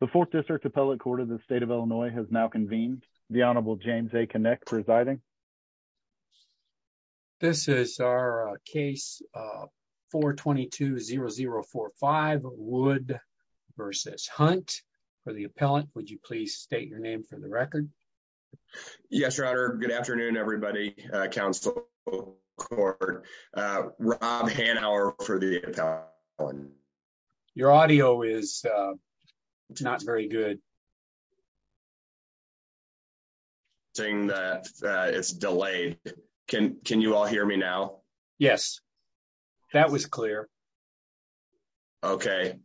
The Fourth District Appellate Court of the State of Illinois has now convened. The Honorable James A. Connick presiding. This is our case 422-0045, Wood v. Hunt. For the appellant, would you please state your name for the record? Yes, Your Honor. Good afternoon, everybody. Council Court. Rob Hanauer for the appellant. Your audio is not very good. It's delayed. Can you all hear me now? Yes. That was clear. Okay.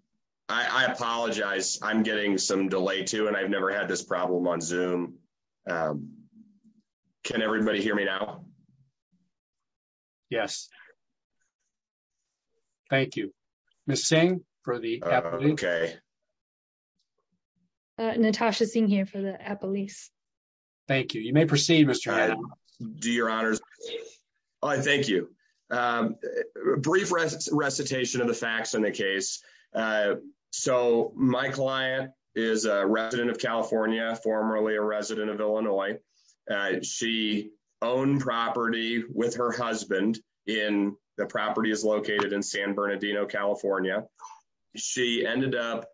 I apologize. I'm getting some delay too, and I've never had this problem on Zoom. Can everybody hear me now? Yes. Thank you. Ms. Singh for the appellant. Natasha Singh here for the appellant. Thank you. You may proceed, Mr. Hanauer. Do your honors. Thank you. Brief recitation of the facts in the case. So my client is a resident of California, formerly a resident of Illinois. She owned property with her husband in the properties located in San Bernardino, California. She ended up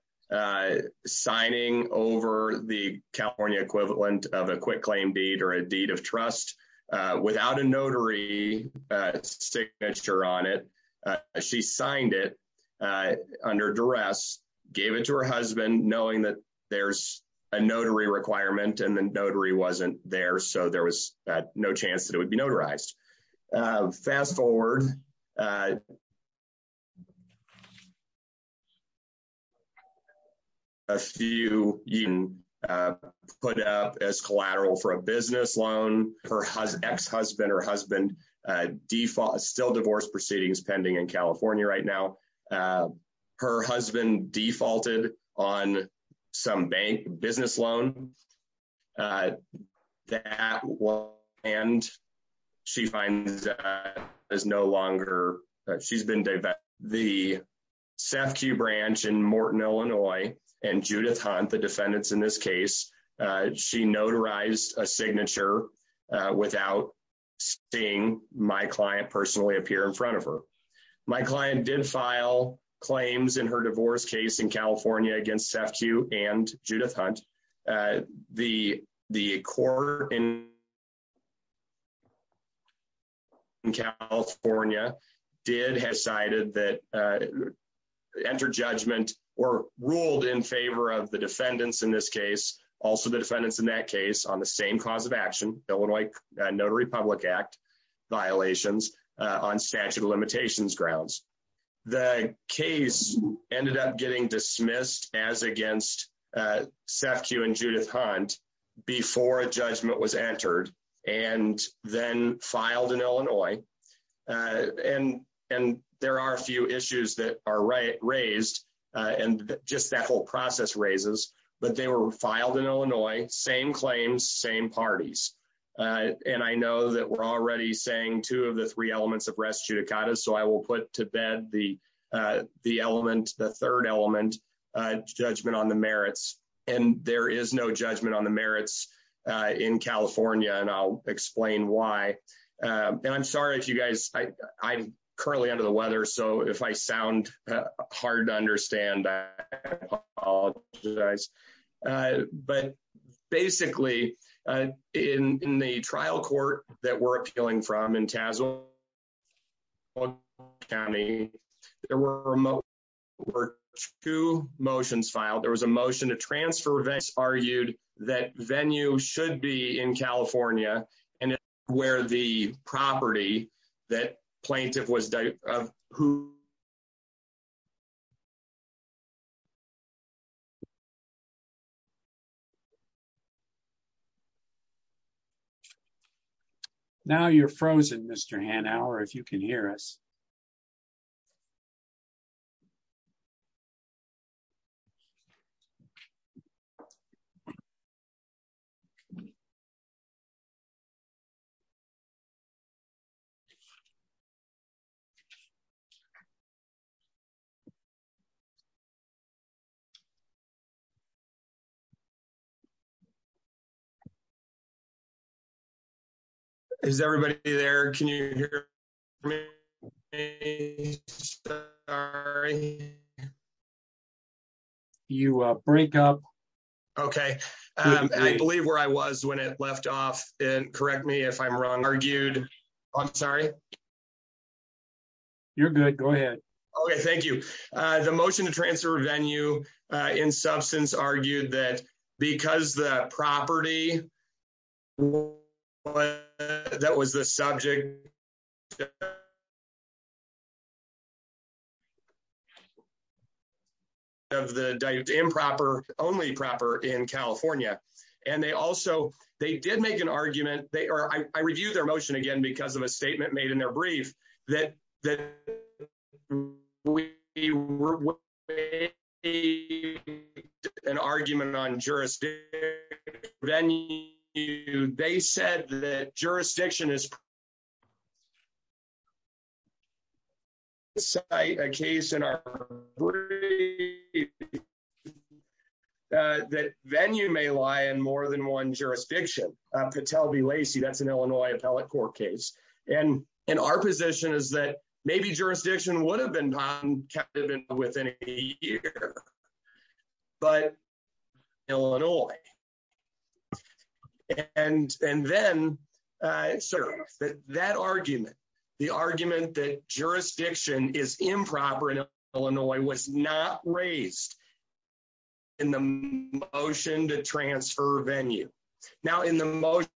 signing over the California equivalent of a quick claim deed or a deed of trust without a notary signature on it. She signed it under duress, gave it to her husband, knowing that there's a notary requirement and the notary wasn't there, so there was no chance that it would be notarized. Fast forward. A few put up as collateral for a business loan. Her ex-husband or husband still divorce proceedings pending in California right now. Her husband defaulted on some bank business loan. And she finds that is no longer, she's been divorced. The SAFQ branch in Morton, Illinois, and Judith Hunt, the defendants in this case, she notarized a signature without seeing my client personally appear in front of her. My client did file claims in her divorce case in California against SAFQ and Judith Hunt. The court in California did have cited that, entered judgment or ruled in favor of the defendants in this case, also the defendants in that case on the same cause of action, Illinois Notary Public Act violations on statute of limitations grounds. The case ended up getting dismissed as against SAFQ and Judith Hunt before a judgment was entered and then filed in Illinois. And there are a few issues that are raised and just that whole process raises, but they were filed in Illinois, same claims, same parties. And I know that we're already saying two of the three elements of res judicata, so I will put to bed the element, the third element, judgment on the merits. And there is no judgment on the merits in California, and I'll explain why. And I'm sorry if you guys, I'm currently under the weather, so if I sound hard to understand, I apologize. But basically, in the trial court that we're appealing from in Tazewell County, there were two motions filed. There was a motion to transfer events argued that venue should be in California and where the property that plaintiff was who. Now you're frozen, Mr. Hanauer, if you can hear us. Okay. Is everybody there? Can you hear me? Okay, I believe where I was when it left off and correct me if I'm wrong argued. I'm sorry. You're good. Go ahead. Okay, thank you. The motion to transfer venue in substance argued that because the property. That was the subject. Of the improper only proper in California, and they also they did make an argument. They are. I review their motion again because of a statement made in their brief that that we were a. An argument on jurisdiction venue. They said that jurisdiction is. A case in our. That venue may lie in more than one jurisdiction could tell be Lacey. That's an Illinois appellate court case. And in our position is that maybe jurisdiction would have been within a year. But Illinois. And then serve that argument. The argument that jurisdiction is improper in Illinois was not raised. In the motion to transfer venue now in the most.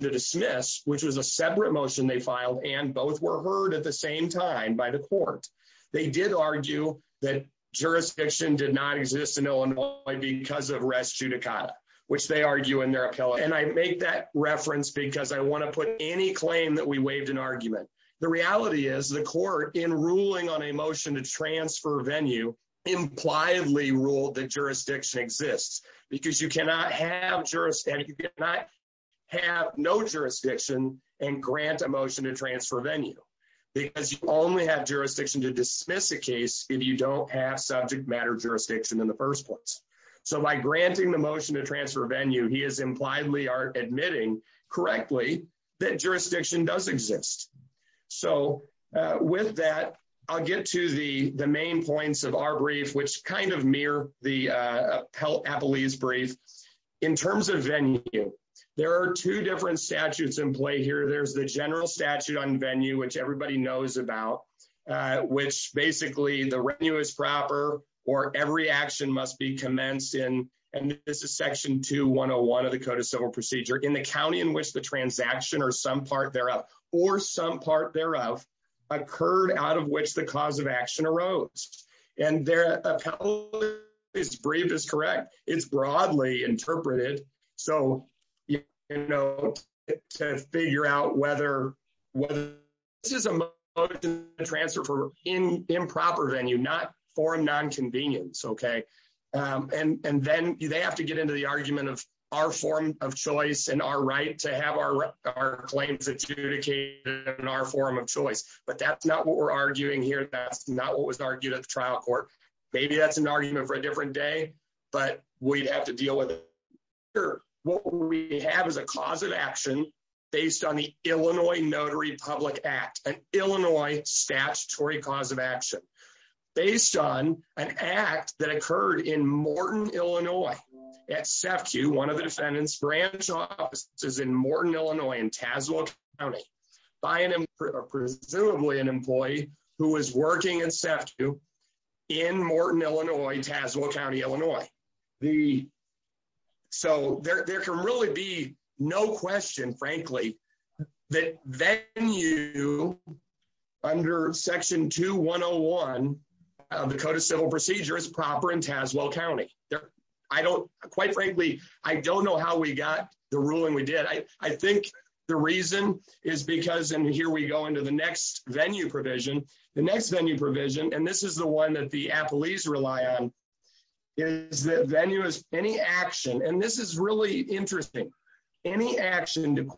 The dismiss, which was a separate motion. They filed and both were heard at the same time by the court. They did argue that jurisdiction did not exist in Illinois because of rescue Dakota, which they argue in their appellate and I make that reference because I want to put any claim that we waived an argument. The reality is the court in ruling on a motion to transfer venue impliedly ruled that jurisdiction exists because you cannot have jurisdiction. Have no jurisdiction and grant emotion to transfer venue. Because you only have jurisdiction to dismiss a case if you don't have subject matter jurisdiction in the first place. So by granting the motion to transfer venue. He is impliedly are admitting correctly that jurisdiction does exist. So with that, I'll get to the main points of our brief, which kind of mirror the appellate police brief in terms of venue. There are two different statutes in play here. There's the general statute on venue, which everybody knows about. Which basically the venue is proper or every action must be commenced in. And this is section 2101 of the code of civil procedure in the county in which the transaction or some part thereof, or some part thereof occurred out of which the cause of action arose and their appellate police brief is correct. It's broadly interpreted. So, you know, to figure out whether this is a motion to transfer for improper venue, not for non-convenience. And then they have to get into the argument of our form of choice and our right to have our claims adjudicated in our form of choice. But that's not what we're arguing here. That's not what was argued at the trial court. Maybe that's an argument for a different day, but we'd have to deal with it. Here, what we have is a cause of action based on the Illinois Notary Public Act, an Illinois statutory cause of action based on an act that occurred in Morton, Illinois at SEFCU, one of the defendant's branch offices in Morton, Illinois, in Tazewell County, by presumably an employee who was working in SEFCU in Morton, Illinois, Tazewell County, Illinois. So there can really be no question, frankly, that venue under Section 2101 of the Code of Civil Procedure is proper in Tazewell County. Quite frankly, I don't know how we got the ruling we did. I think the reason is because, and here we go into the next venue provision, the next venue provision, and this is the one that the appellees rely on, is that venue is any action, and this is really interesting, any action to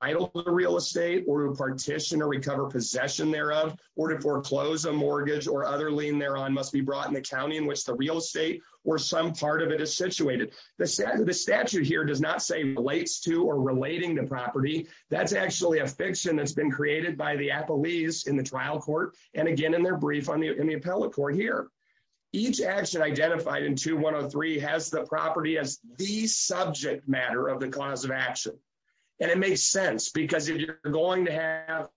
title the real estate or to partition or recover possession thereof or to foreclose a mortgage or other lien thereon must be brought in the county in which the real estate or some part of it is situated. The statute here does not say relates to or relating to property. That's actually a fiction that's been created by the appellees in the trial court, and again in their brief in the appellate court here. Each action identified in 2103 has the property as the subject matter of the cause of action, and it makes sense because if you're going to have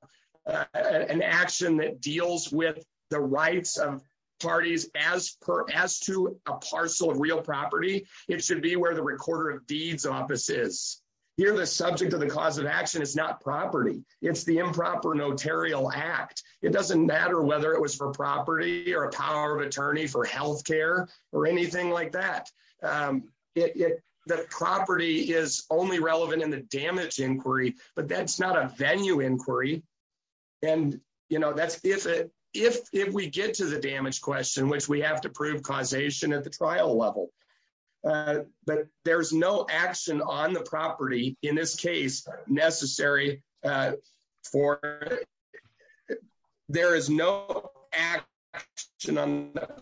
an action that deals with the rights of parties as to a parcel of real property, it should be where the recorder of deeds office is. Here the subject of the cause of action is not property. It's the improper notarial act. It doesn't matter whether it was for property or a power of attorney for health care or anything like that. The property is only relevant in the damage inquiry, but that's not a venue inquiry, and that's if we get to the damage question, which we have to prove causation at the trial level. But there's no action on the property in this case necessary for. There is no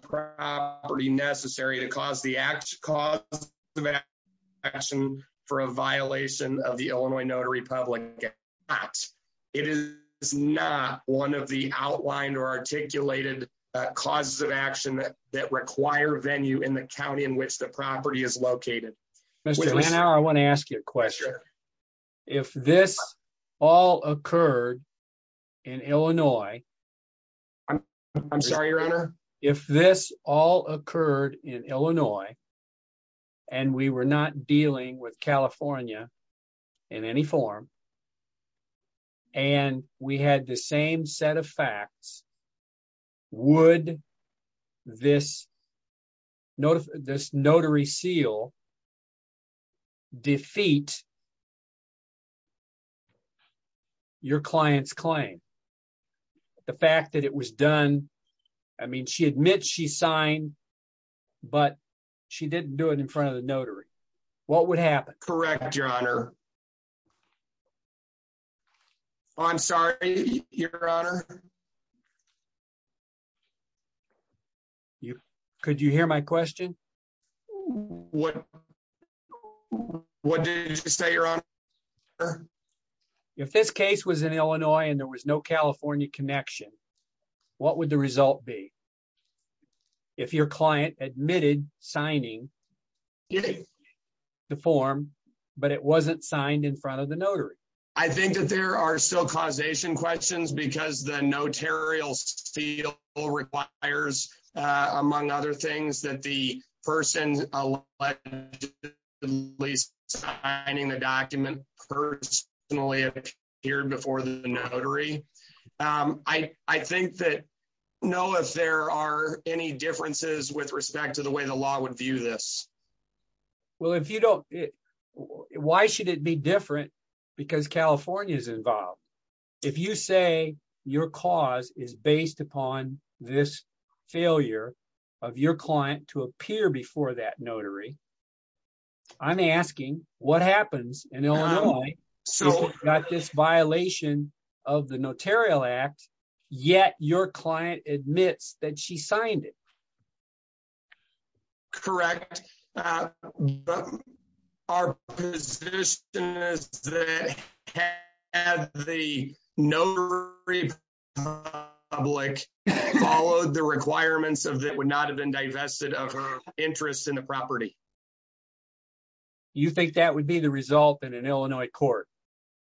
property necessary to cause the actual cause of action for a violation of the Illinois notary public. It is not one of the outlined or articulated causes of action that that require venue in the county in which the property is located. I want to ask you a question. If this all occurred in Illinois. I'm sorry your honor. If this all occurred in Illinois. And we were not dealing with California in any form. And we had the same set of facts. Would this notice this notary seal defeat your client's claim. The fact that it was done. I mean she admits she signed, but she didn't do it in front of the notary. What would happen correct your honor. I'm sorry, your honor. You could you hear my question. What. What did you say you're on. If this case was in Illinois and there was no California connection. What would the result be. If your client admitted signing. The form, but it wasn't signed in front of the notary. I think that there are still causation questions because the notarial field requires, among other things that the person. The person who was allegedly signing the document personally appeared before the notary. I think that know if there are any differences with respect to the way the law would view this. Well, if you don't. Why should it be different, because California is involved. If you say your cause is based upon this failure of your client to appear before that notary. I'm asking what happens. So, like this violation of the notarial act. Yet, your client admits that she signed it. Correct. Our position is that the notary public followed the requirements of that would not have been divested of her interest in the property. You think that would be the result in an Illinois court.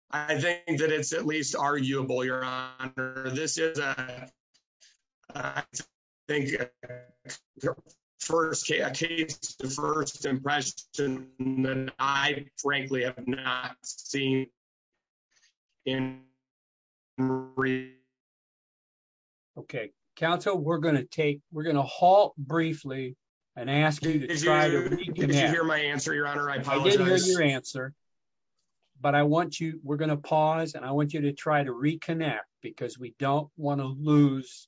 I think that it's at least arguable your honor. This is a. Thank you. First case the first impression that I frankly have not seen in three. Okay, Council we're going to take, we're going to halt briefly and ask you to try to hear my answer your honor I apologize your answer. But I want you, we're going to pause and I want you to try to reconnect, because we don't want to lose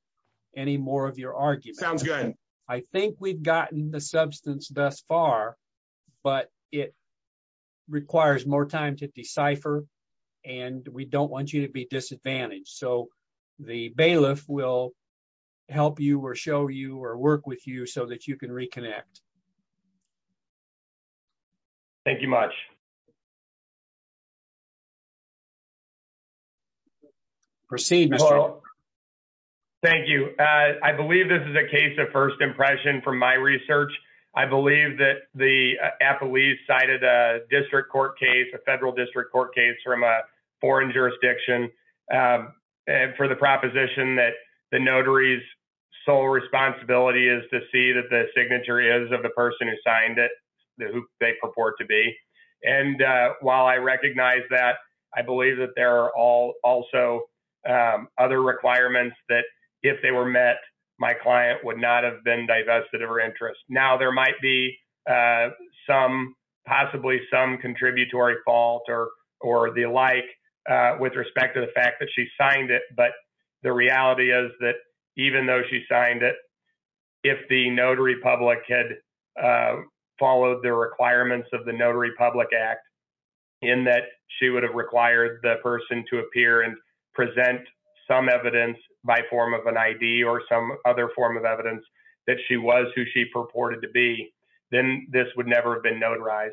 any more of your argument sounds good. I think we've gotten the substance thus far, but it requires more time to decipher. And we don't want you to be disadvantaged so the bailiff will help you or show you or work with you so that you can reconnect. Thank you much. Proceed. Thank you. I believe this is a case of first impression from my research, I believe that the Apple he cited a district court case a federal district court case from a foreign jurisdiction. For the proposition that the notary's sole responsibility is to see that the signature is of the person who signed it. They purport to be. And while I recognize that I believe that there are all also other requirements that if they were met my client would not have been divested of her interest. Now there might be some possibly some contributory fault or, or the like, with respect to the fact that she signed it but the reality is that even though she signed it. If the notary public had followed the requirements of the notary public act, in that she would have required the person to appear and present some evidence by form of an ID or some other form of evidence that she was who she purported to be, then this would never have been notarized.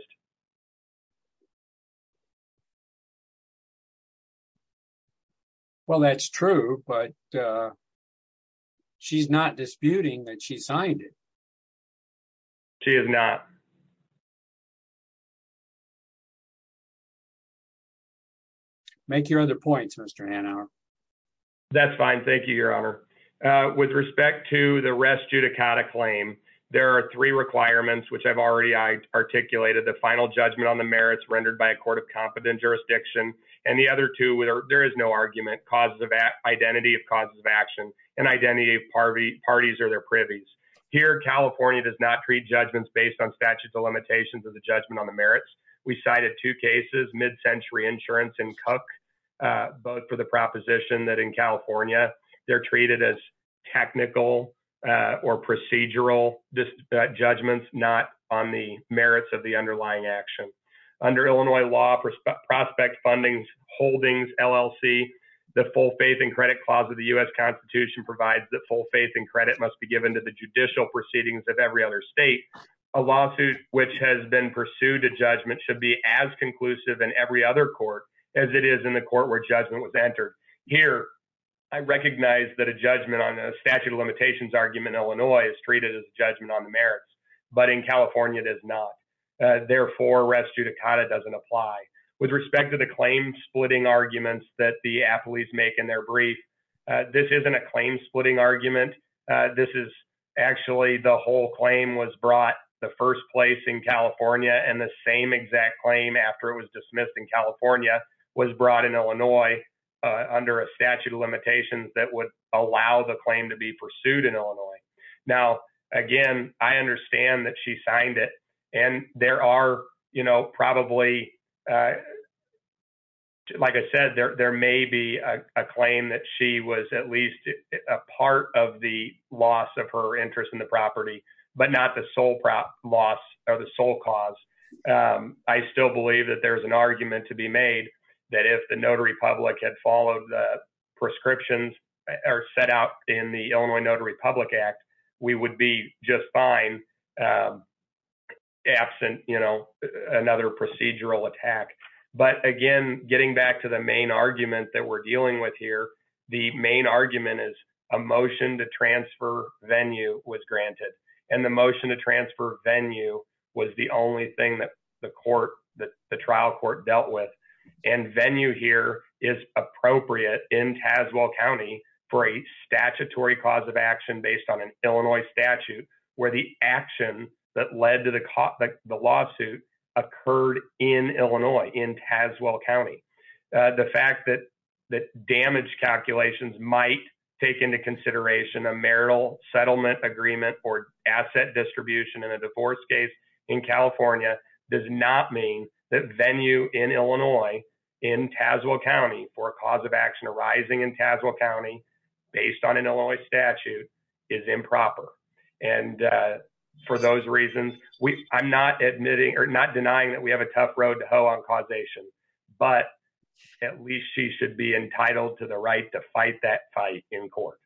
Well, that's true, but she's not disputing that she signed it. She is not. Make your other points Mr Hanauer. That's fine. Thank you, Your Honor. With respect to the rest judicata claim. There are three requirements which I've already I articulated the final judgment on the merits rendered by a court of competent jurisdiction, and the other two with or there is no argument causes of that identity of parties or their privies here California does not treat judgments based on statutes of limitations of the judgment on the merits. We cited two cases mid century insurance and cook, but for the proposition that in California, they're treated as technical or procedural judgments, not on the merits of the underlying action under Illinois law for prospect fundings holdings LLC, the full faith and credit clause of the US Constitution provides the full faith and credit must be given to the judicial proceedings of every other state, a lawsuit, which has been pursued a judgment should be as conclusive and every other court, as it is in the court where judgment was entered here. I recognize that a judgment on the statute of limitations argument Illinois is treated as judgment on the merits, but in California does not. And there are, you know, probably. Like I said, there may be a claim that she was at least a part of the loss of her interest in the property, but not the sole loss of the sole cause. I still believe that there's an argument to be made that if the notary public had followed the prescriptions are set out in the Illinois notary public act, we would be just fine. Absent, you know, another procedural attack. But again, getting back to the main argument that we're dealing with here. The main argument is a motion to transfer venue was granted, and the motion to transfer venue was the only thing that the court that the trial court dealt with and venue here is appropriate in Tazewell County for a statutory cause of action based on an Illinois statute where the action that led to the lawsuit occurred in Illinois in Tazewell County. The fact that that damage calculations might take into consideration a marital settlement agreement or asset distribution in a divorce case in California does not mean that venue in Illinois in Tazewell County for a cause of action arising in Tazewell County, based on an Illinois statute is improper. And for those reasons, we, I'm not admitting or not denying that we have a tough road to hoe on causation, but at least she should be entitled to the right to fight that fight in court.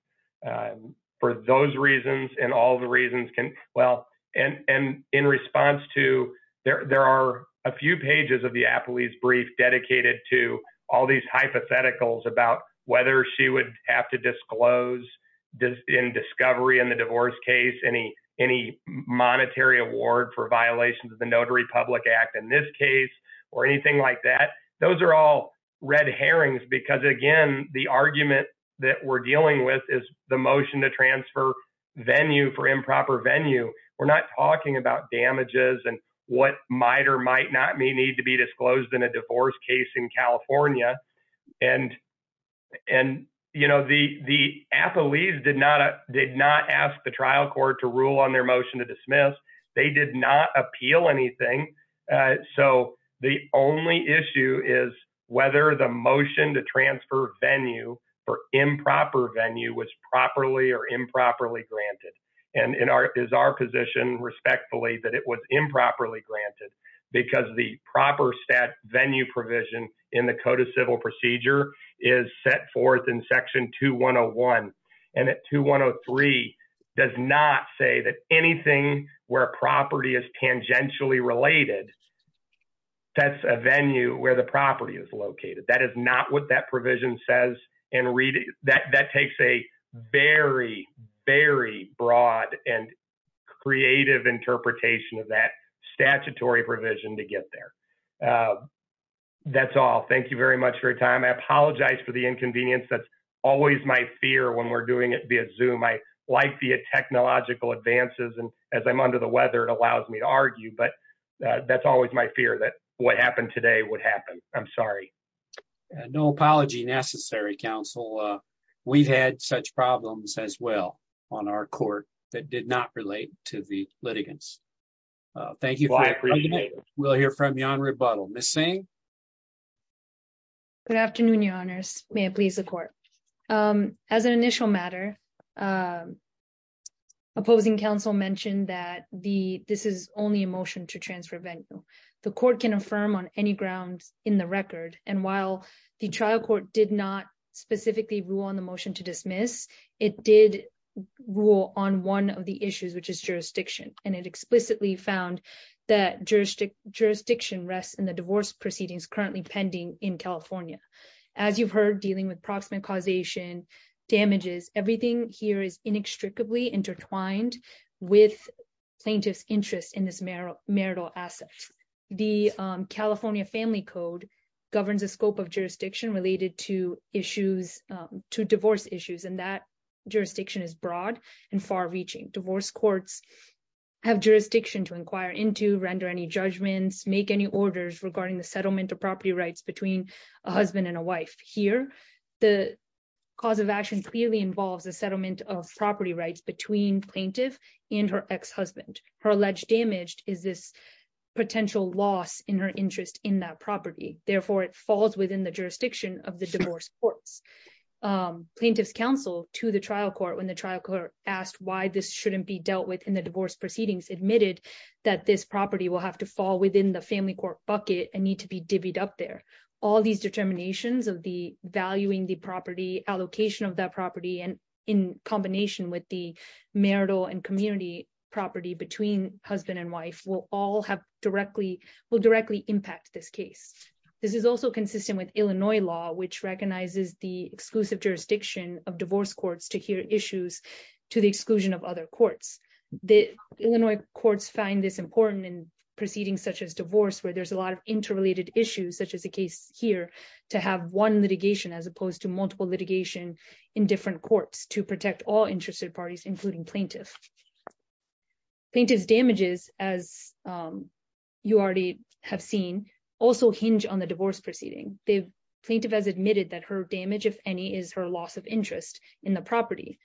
For those reasons, and all the reasons can well and and in response to their, there are a few pages of the Applebee's brief dedicated to all these hypotheticals about whether she would have to disclose this in discovery in the divorce case any, any monetary award for violations of the notary public act in this case, or anything like that. Those are all red herrings because again, the argument that we're dealing with is the motion to transfer venue for improper venue. We're not talking about damages and what might or might not may need to be disclosed in a divorce case in California. And, and, you know, the, the Applebee's did not, did not ask the trial court to rule on their motion to dismiss. They did not appeal anything. So the only issue is whether the motion to transfer venue for improper venue was properly or improperly granted and in our, is our position respectfully that it was improperly granted because the proper stat venue provision in the code of civil procedure is set forth in section two one Oh one. And at two one Oh three does not say that anything where property is tangentially related. That's a venue where the property is located. That is not what that provision says and read that that takes a very, very broad and creative interpretation of that statutory provision to get there. That's all thank you very much for your time I apologize for the inconvenience that's always my fear when we're doing it via zoom I like the technological advances and as I'm under the weather it allows me to argue but that's always my fear that what happened today would happen. I'm sorry. No apology necessary counsel. We've had such problems as well on our court that did not relate to the litigants. Thank you. We'll hear from me on rebuttal missing. Good afternoon, your honors, may it please the court. As an initial matter. Opposing counsel mentioned that the, this is only emotion to transfer venue. The court can affirm on any grounds in the record, and while the trial court did not specifically rule on the motion to dismiss it did rule on one of the issues which is jurisdiction, and it explicitly found that jurisdiction jurisdiction rest in the divorce proceedings currently pending in California. As you've heard dealing with proximate causation damages, everything here is inextricably intertwined with plaintiffs interest in this marrow marital assets. The California family code governs the scope of jurisdiction related to issues to divorce issues and that jurisdiction is broad and far reaching divorce courts have jurisdiction to inquire into render any judgments make any orders regarding the settlement of property rights between a husband and a wife here. The cause of action clearly involves a settlement of property rights between plaintiff in her ex husband, her alleged damaged, is this potential loss in her interest in that property, therefore it falls within the jurisdiction of the divorce courts plaintiffs counsel to the trial court when the trial court asked why this shouldn't be dealt with in the divorce proceedings admitted that this property will have to fall within the family court bucket and need to be divvied up there. All these determinations of the valuing the property allocation of that property and in combination with the marital and community property between husband and wife will all have directly will directly impact this case. This is also consistent with Illinois law which recognizes the exclusive jurisdiction of divorce courts to hear issues to the exclusion of other courts, the Illinois courts find this important in proceedings such as divorce where there's a lot of interrelated damage on the divorce proceeding, the plaintiff has admitted that her damage if any is her loss of interest in the property.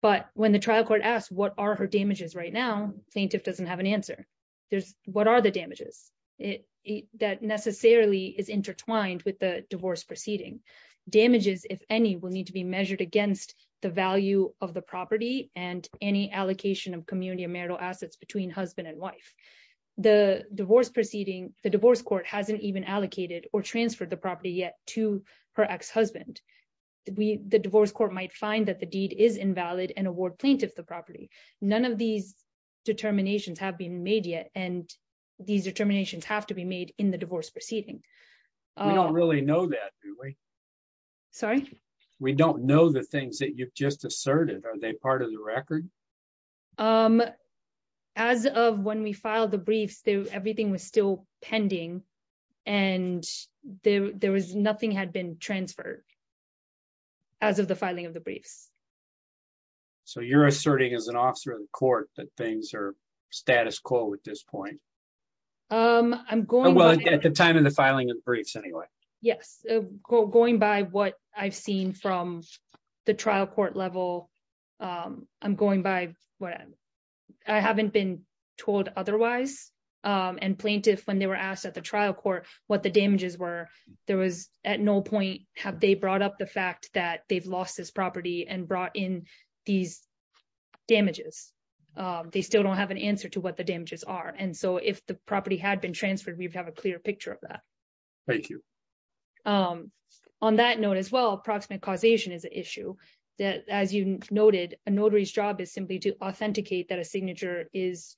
But when the trial court asked what are her damages right now plaintiff doesn't have an answer. There's, what are the damages it that necessarily is intertwined with the divorce proceeding damages, if any, will need to be measured against the value of the property and any allocation of community marital assets between husband and wife. The divorce proceeding, the divorce court hasn't even allocated or transfer the property yet to her ex husband. We, the divorce court might find that the deed is invalid and award plaintiff the property. None of these determinations have been made yet, and these determinations have to be made in the divorce proceeding. I don't really know that. Sorry, we don't know the things that you've just asserted are they part of the record. Um, as of when we filed the briefs do everything was still pending. And there was nothing had been transferred. As of the filing of the briefs. So you're asserting as an officer of the court that things are status quo at this point. I'm going well at the time of the filing of briefs anyway. Yes, going by what I've seen from the trial court level. I'm going by what I haven't been told otherwise, and plaintiff when they were asked at the trial court, what the damages were, there was at no point, have they brought up the fact that they've lost this property and brought in these damages. They still don't have an answer to what the damages are and so if the property had been transferred we'd have a clear picture of that. Thank you. On that note as well approximate causation is an issue that, as you noted, a notary's job is simply to authenticate that a signature is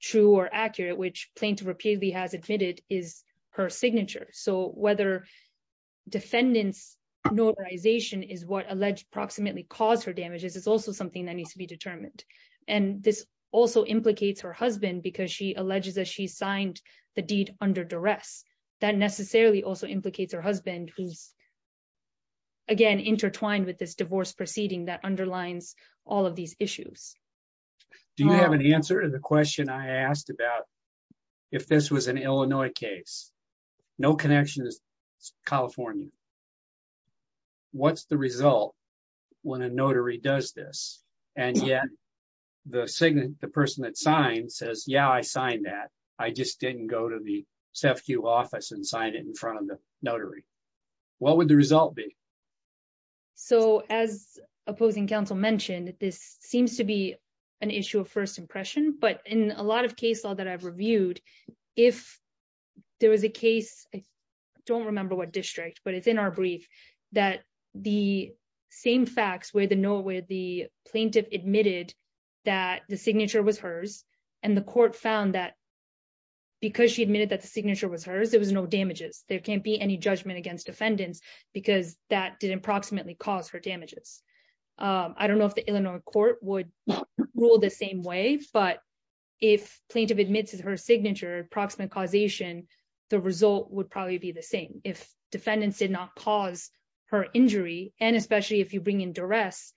true or accurate which plaintiff repeatedly has admitted is her signature so whether defendants notarization is what necessarily also implicates her husband who's again intertwined with this divorce proceeding that underlines all of these issues. Do you have an answer to the question I asked about if this was an Illinois case. No connection is California. What's the result. When a notary does this, and yet the signal, the person that sign says yeah I signed that I just didn't go to the staff queue office and sign it in front of the notary. What would the result be. So, as opposing counsel mentioned this seems to be an issue of first impression but in a lot of case law that I've reviewed. If there was a case. I don't remember what district but it's in our brief that the same facts where the know where the plaintiff admitted that the signature was hers, and the court found that because she admitted that the signature was hers, there was no damages, there can't be any judgment against defendants, because that did approximately cause for damages. I don't know if the Illinois court would rule the same way, but if plaintiff admits is her signature approximate causation. The result would probably be the same. If defendants did not cause her injury, and especially if you bring in duress,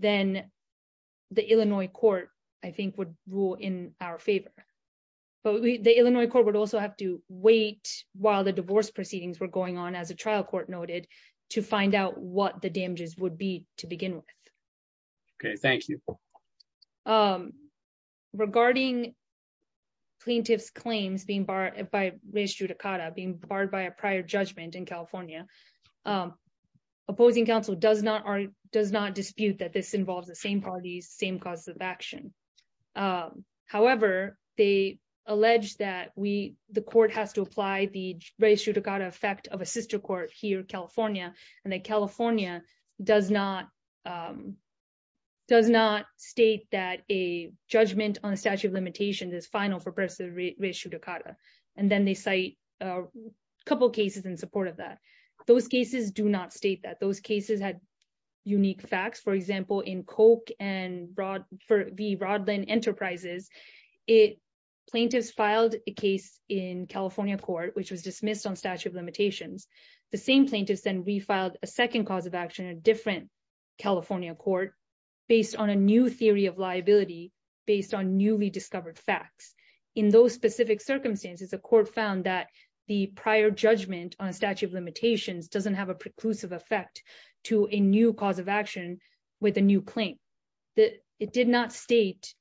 then the Illinois court, I think would rule in our favor. But the Illinois corporate also have to wait, while the divorce proceedings were going on as a trial court noted to find out what the damages would be, to begin with. Okay, thank you. Regarding plaintiffs claims being barred by race judicata being barred by a prior judgment in California. Opposing Council does not are does not dispute that this involves the same parties, same cause of action. However, they allege that we, the court has to apply the race judicata effect of a sister court here, California, and the California does not does not state that a judgment on a statute of limitations is final for precedent ratio Dakota. And then they say a couple cases in support of that. Those cases do not state that those cases had unique facts for example in Coke and broad for the broad line enterprises. It plaintiffs filed a case in California court, which was dismissed on statute of limitations. The same plaintiffs then refiled a second cause of action a different California court, based on a new theory of liability, based on newly discovered facts. In those specific circumstances a court found that the prior judgment on a statute of limitations doesn't have a preclusive effect to a new cause of action with a new claim that it did not state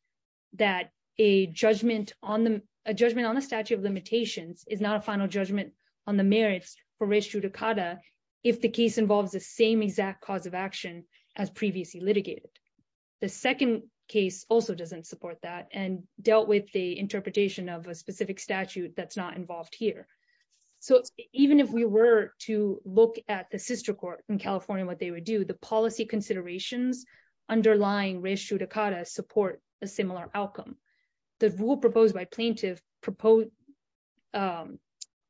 that a judgment on the judgment on the statute of limitations is not a final judgment on the merits for issue Dakota. If the case involves the same exact cause of action as previously litigated. The second case also doesn't support that and dealt with the interpretation of a specific statute that's not involved here. So, even if we were to look at the sister court in California what they would do the policy considerations underlying ratio Dakota support a similar outcome. The rule proposed by plaintiff proposed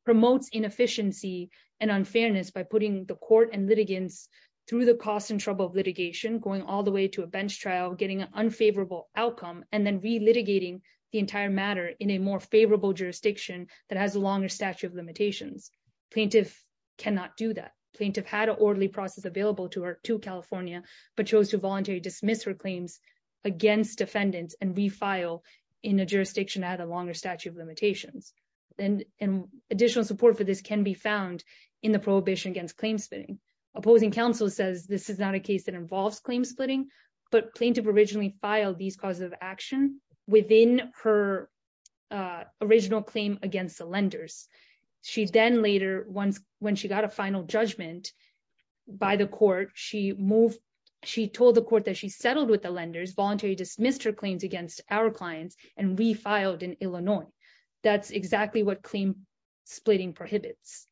promotes inefficiency and unfairness by putting the court and litigants through the cost and trouble of litigation going all the way to a bench trial getting an unfavorable outcome, and then be litigating the entire matter in a more favorable jurisdiction that has a longer statute of limitations plaintiff cannot do that plaintiff had an orderly process available to her to California, but chose to voluntary dismiss her claims against defendants and refile in a jurisdiction that has a longer statute of limitations and additional support for this can be found in the prohibition against claim splitting opposing counsel says this is not a case that involves claim splitting, but plaintiff originally filed these causes of action within her original claim against the lenders. She then later once when she got a final judgment by the court, she moved. She told the court that she settled with the lenders voluntary dismissed her claims against our clients and we filed in Illinois. That's exactly what claim splitting prohibits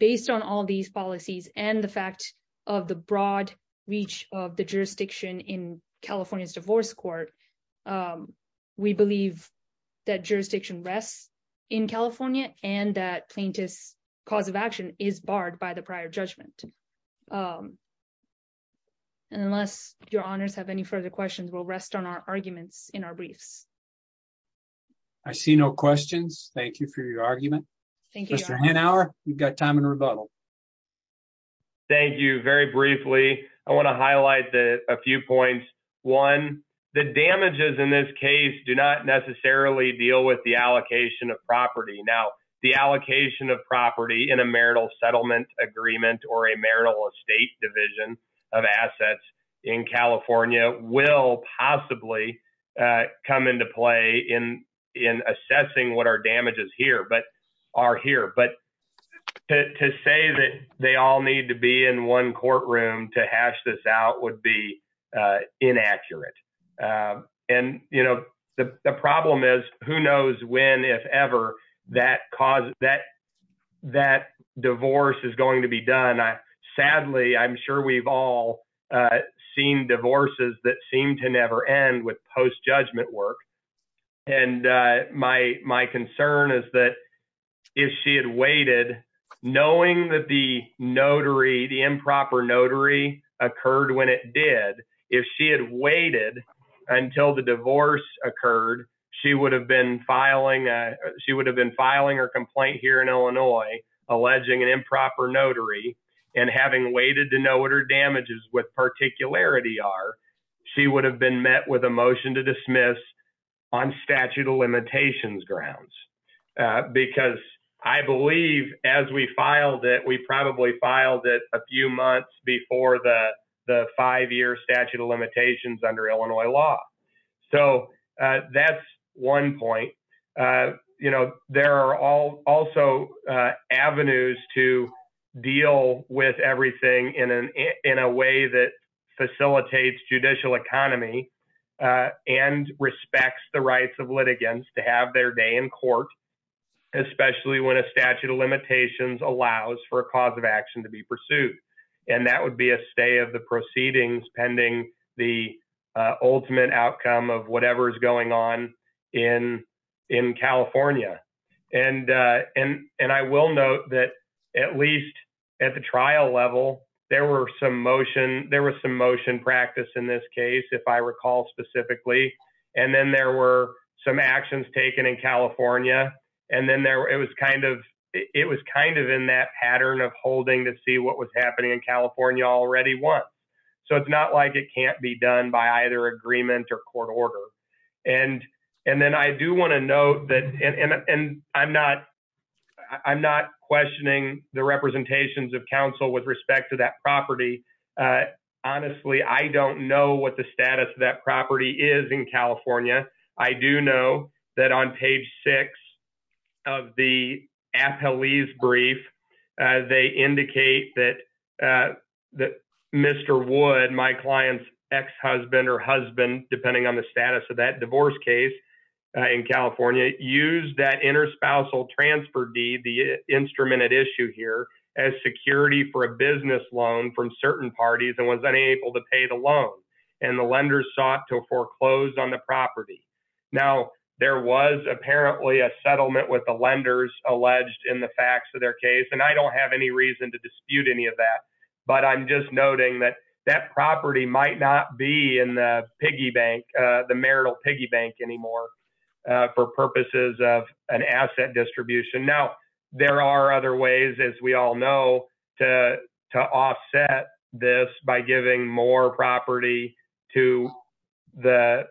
based on all these policies and the fact of the broad reach of the jurisdiction in California's divorce court. We believe that jurisdiction rests in California, and that plaintiffs cause of action is barred by the prior judgment. Unless your honors have any further questions we'll rest on our arguments in our briefs. I see no questions. Thank you for your argument. Thank you for an hour, you've got time and rebuttal. Thank you very briefly. I want to highlight that a few points. One, the damages in this case do not necessarily deal with the allocation of property now the allocation of property in a marital settlement agreement or a marital estate division of assets in California will possibly come into play in in assessing what our damages here but are here but to say that they all need to be in one courtroom to hash this out would be inaccurate. And, you know, the problem is, who knows when if ever that cause that that divorce is going to be done. Sadly, I'm sure we've all seen divorces that seem to never end with post judgment work. And my, my concern is that if she had waited, knowing that the notary the improper notary occurred when it did, if she had waited until the divorce occurred, she would have been filing. She would have been filing or complaint here in Illinois, alleging an improper notary, and having waited to know what our damages with particularity are. She would have been met with a motion to dismiss on statute of limitations grounds, because I believe, as we filed it we probably filed it a few months before the five year statute of limitations under Illinois law. So that's one point. You know, there are all also avenues to deal with everything in an in a way that facilitates judicial economy and respects the rights of litigants to have their day in court, especially when a statute of limitations allows for a cause of action to be pursued. And that would be a stay of the proceedings pending the ultimate outcome of whatever is going on in in California. And, and, and I will note that at least at the trial level, there were some motion, there was some motion practice in this case if I recall specifically, and then there were some actions taken in California. And then there was kind of, it was kind of in that pattern of holding to see what was happening in California already one. So it's not like it can't be done by either agreement or court order. And, and then I do want to note that, and I'm not. I'm not questioning the representations of counsel with respect to that property. Honestly, I don't know what the status of that property is in California. I do know that on page six of the appellees brief. They indicate that that Mr. Wood, my client's ex-husband or husband, depending on the status of that divorce case in California, used that interspousal transfer deed, the instrument at issue here, as security for a business loan from certain parties and was unable to pay the loan. And the lenders sought to foreclose on the property. Now, there was apparently a settlement with the lenders alleged in the facts of their case, and I don't have any reason to dispute any of that. But I'm just noting that that property might not be in the piggy bank, the marital piggy bank anymore for purposes of an asset distribution. Now, there are other ways, as we all know, to offset this by giving more property to the,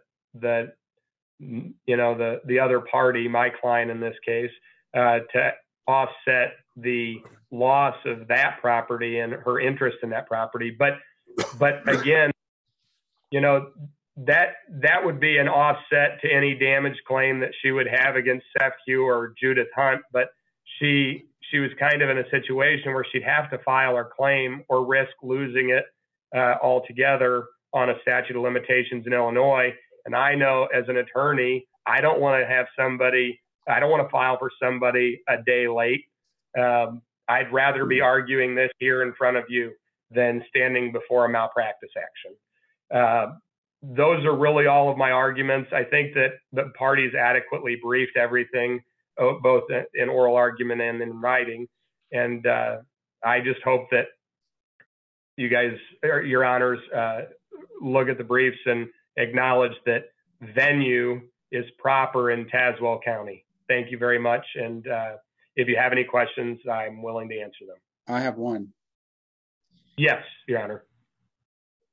you know, the other party, my client in this case, to offset the loss of that property and her interest in that property. But again, you know, that would be an offset to any damage claim that she would have against Seth Hugh or Judith Hunt. But she was kind of in a situation where she'd have to file her claim or risk losing it altogether on a statute of limitations in Illinois. And I know as an attorney, I don't want to have somebody, I don't want to file for somebody a day late. I'd rather be arguing this here in front of you than standing before a malpractice action. Those are really all of my arguments. I think that the parties adequately briefed everything, both in oral argument and in writing. And I just hope that you guys, your honors, look at the briefs and acknowledge that venue is proper in Tazewell County. Thank you very much. And if you have any questions, I'm willing to answer them. I have one. Yes, your honor.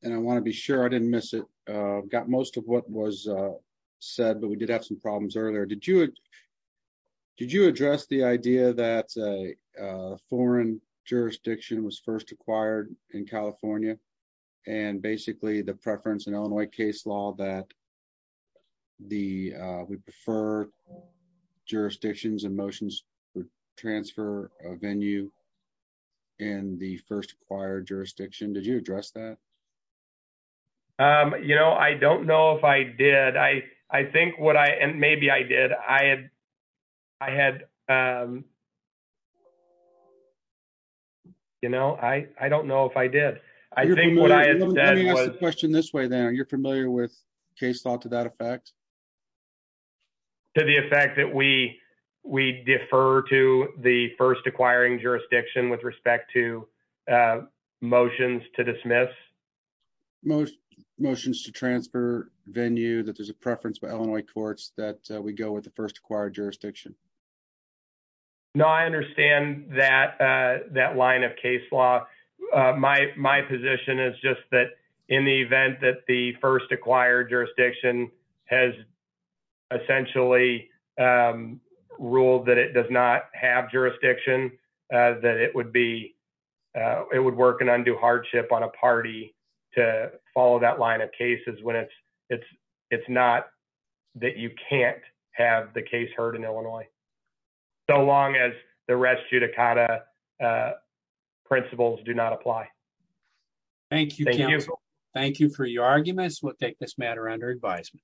And I want to be sure I didn't miss it. Got most of what was said, but we did have some problems earlier. Did you address the idea that a foreign jurisdiction was first acquired in California? And basically the preference in Illinois case law that we prefer jurisdictions and motions for transfer of venue in the first acquired jurisdiction. Did you address that? You know, I don't know if I did. I think what I and maybe I did. I had I had. You know, I don't know if I did. I think what I said was question this way that you're familiar with case law to that effect. To the effect that we we defer to the first acquiring jurisdiction with respect to motions to dismiss. Most motions to transfer venue that there's a preference by Illinois courts that we go with the first acquired jurisdiction. Now, I understand that that line of case law, my my position is just that in the event that the first acquired jurisdiction has. Essentially ruled that it does not have jurisdiction, that it would be it would work an undue hardship on a party to follow that line of cases when it's it's it's not that you can't have the case heard in Illinois. So long as the rest judicata principles do not apply. Thank you. Thank you for your arguments. We'll take this matter under advisement.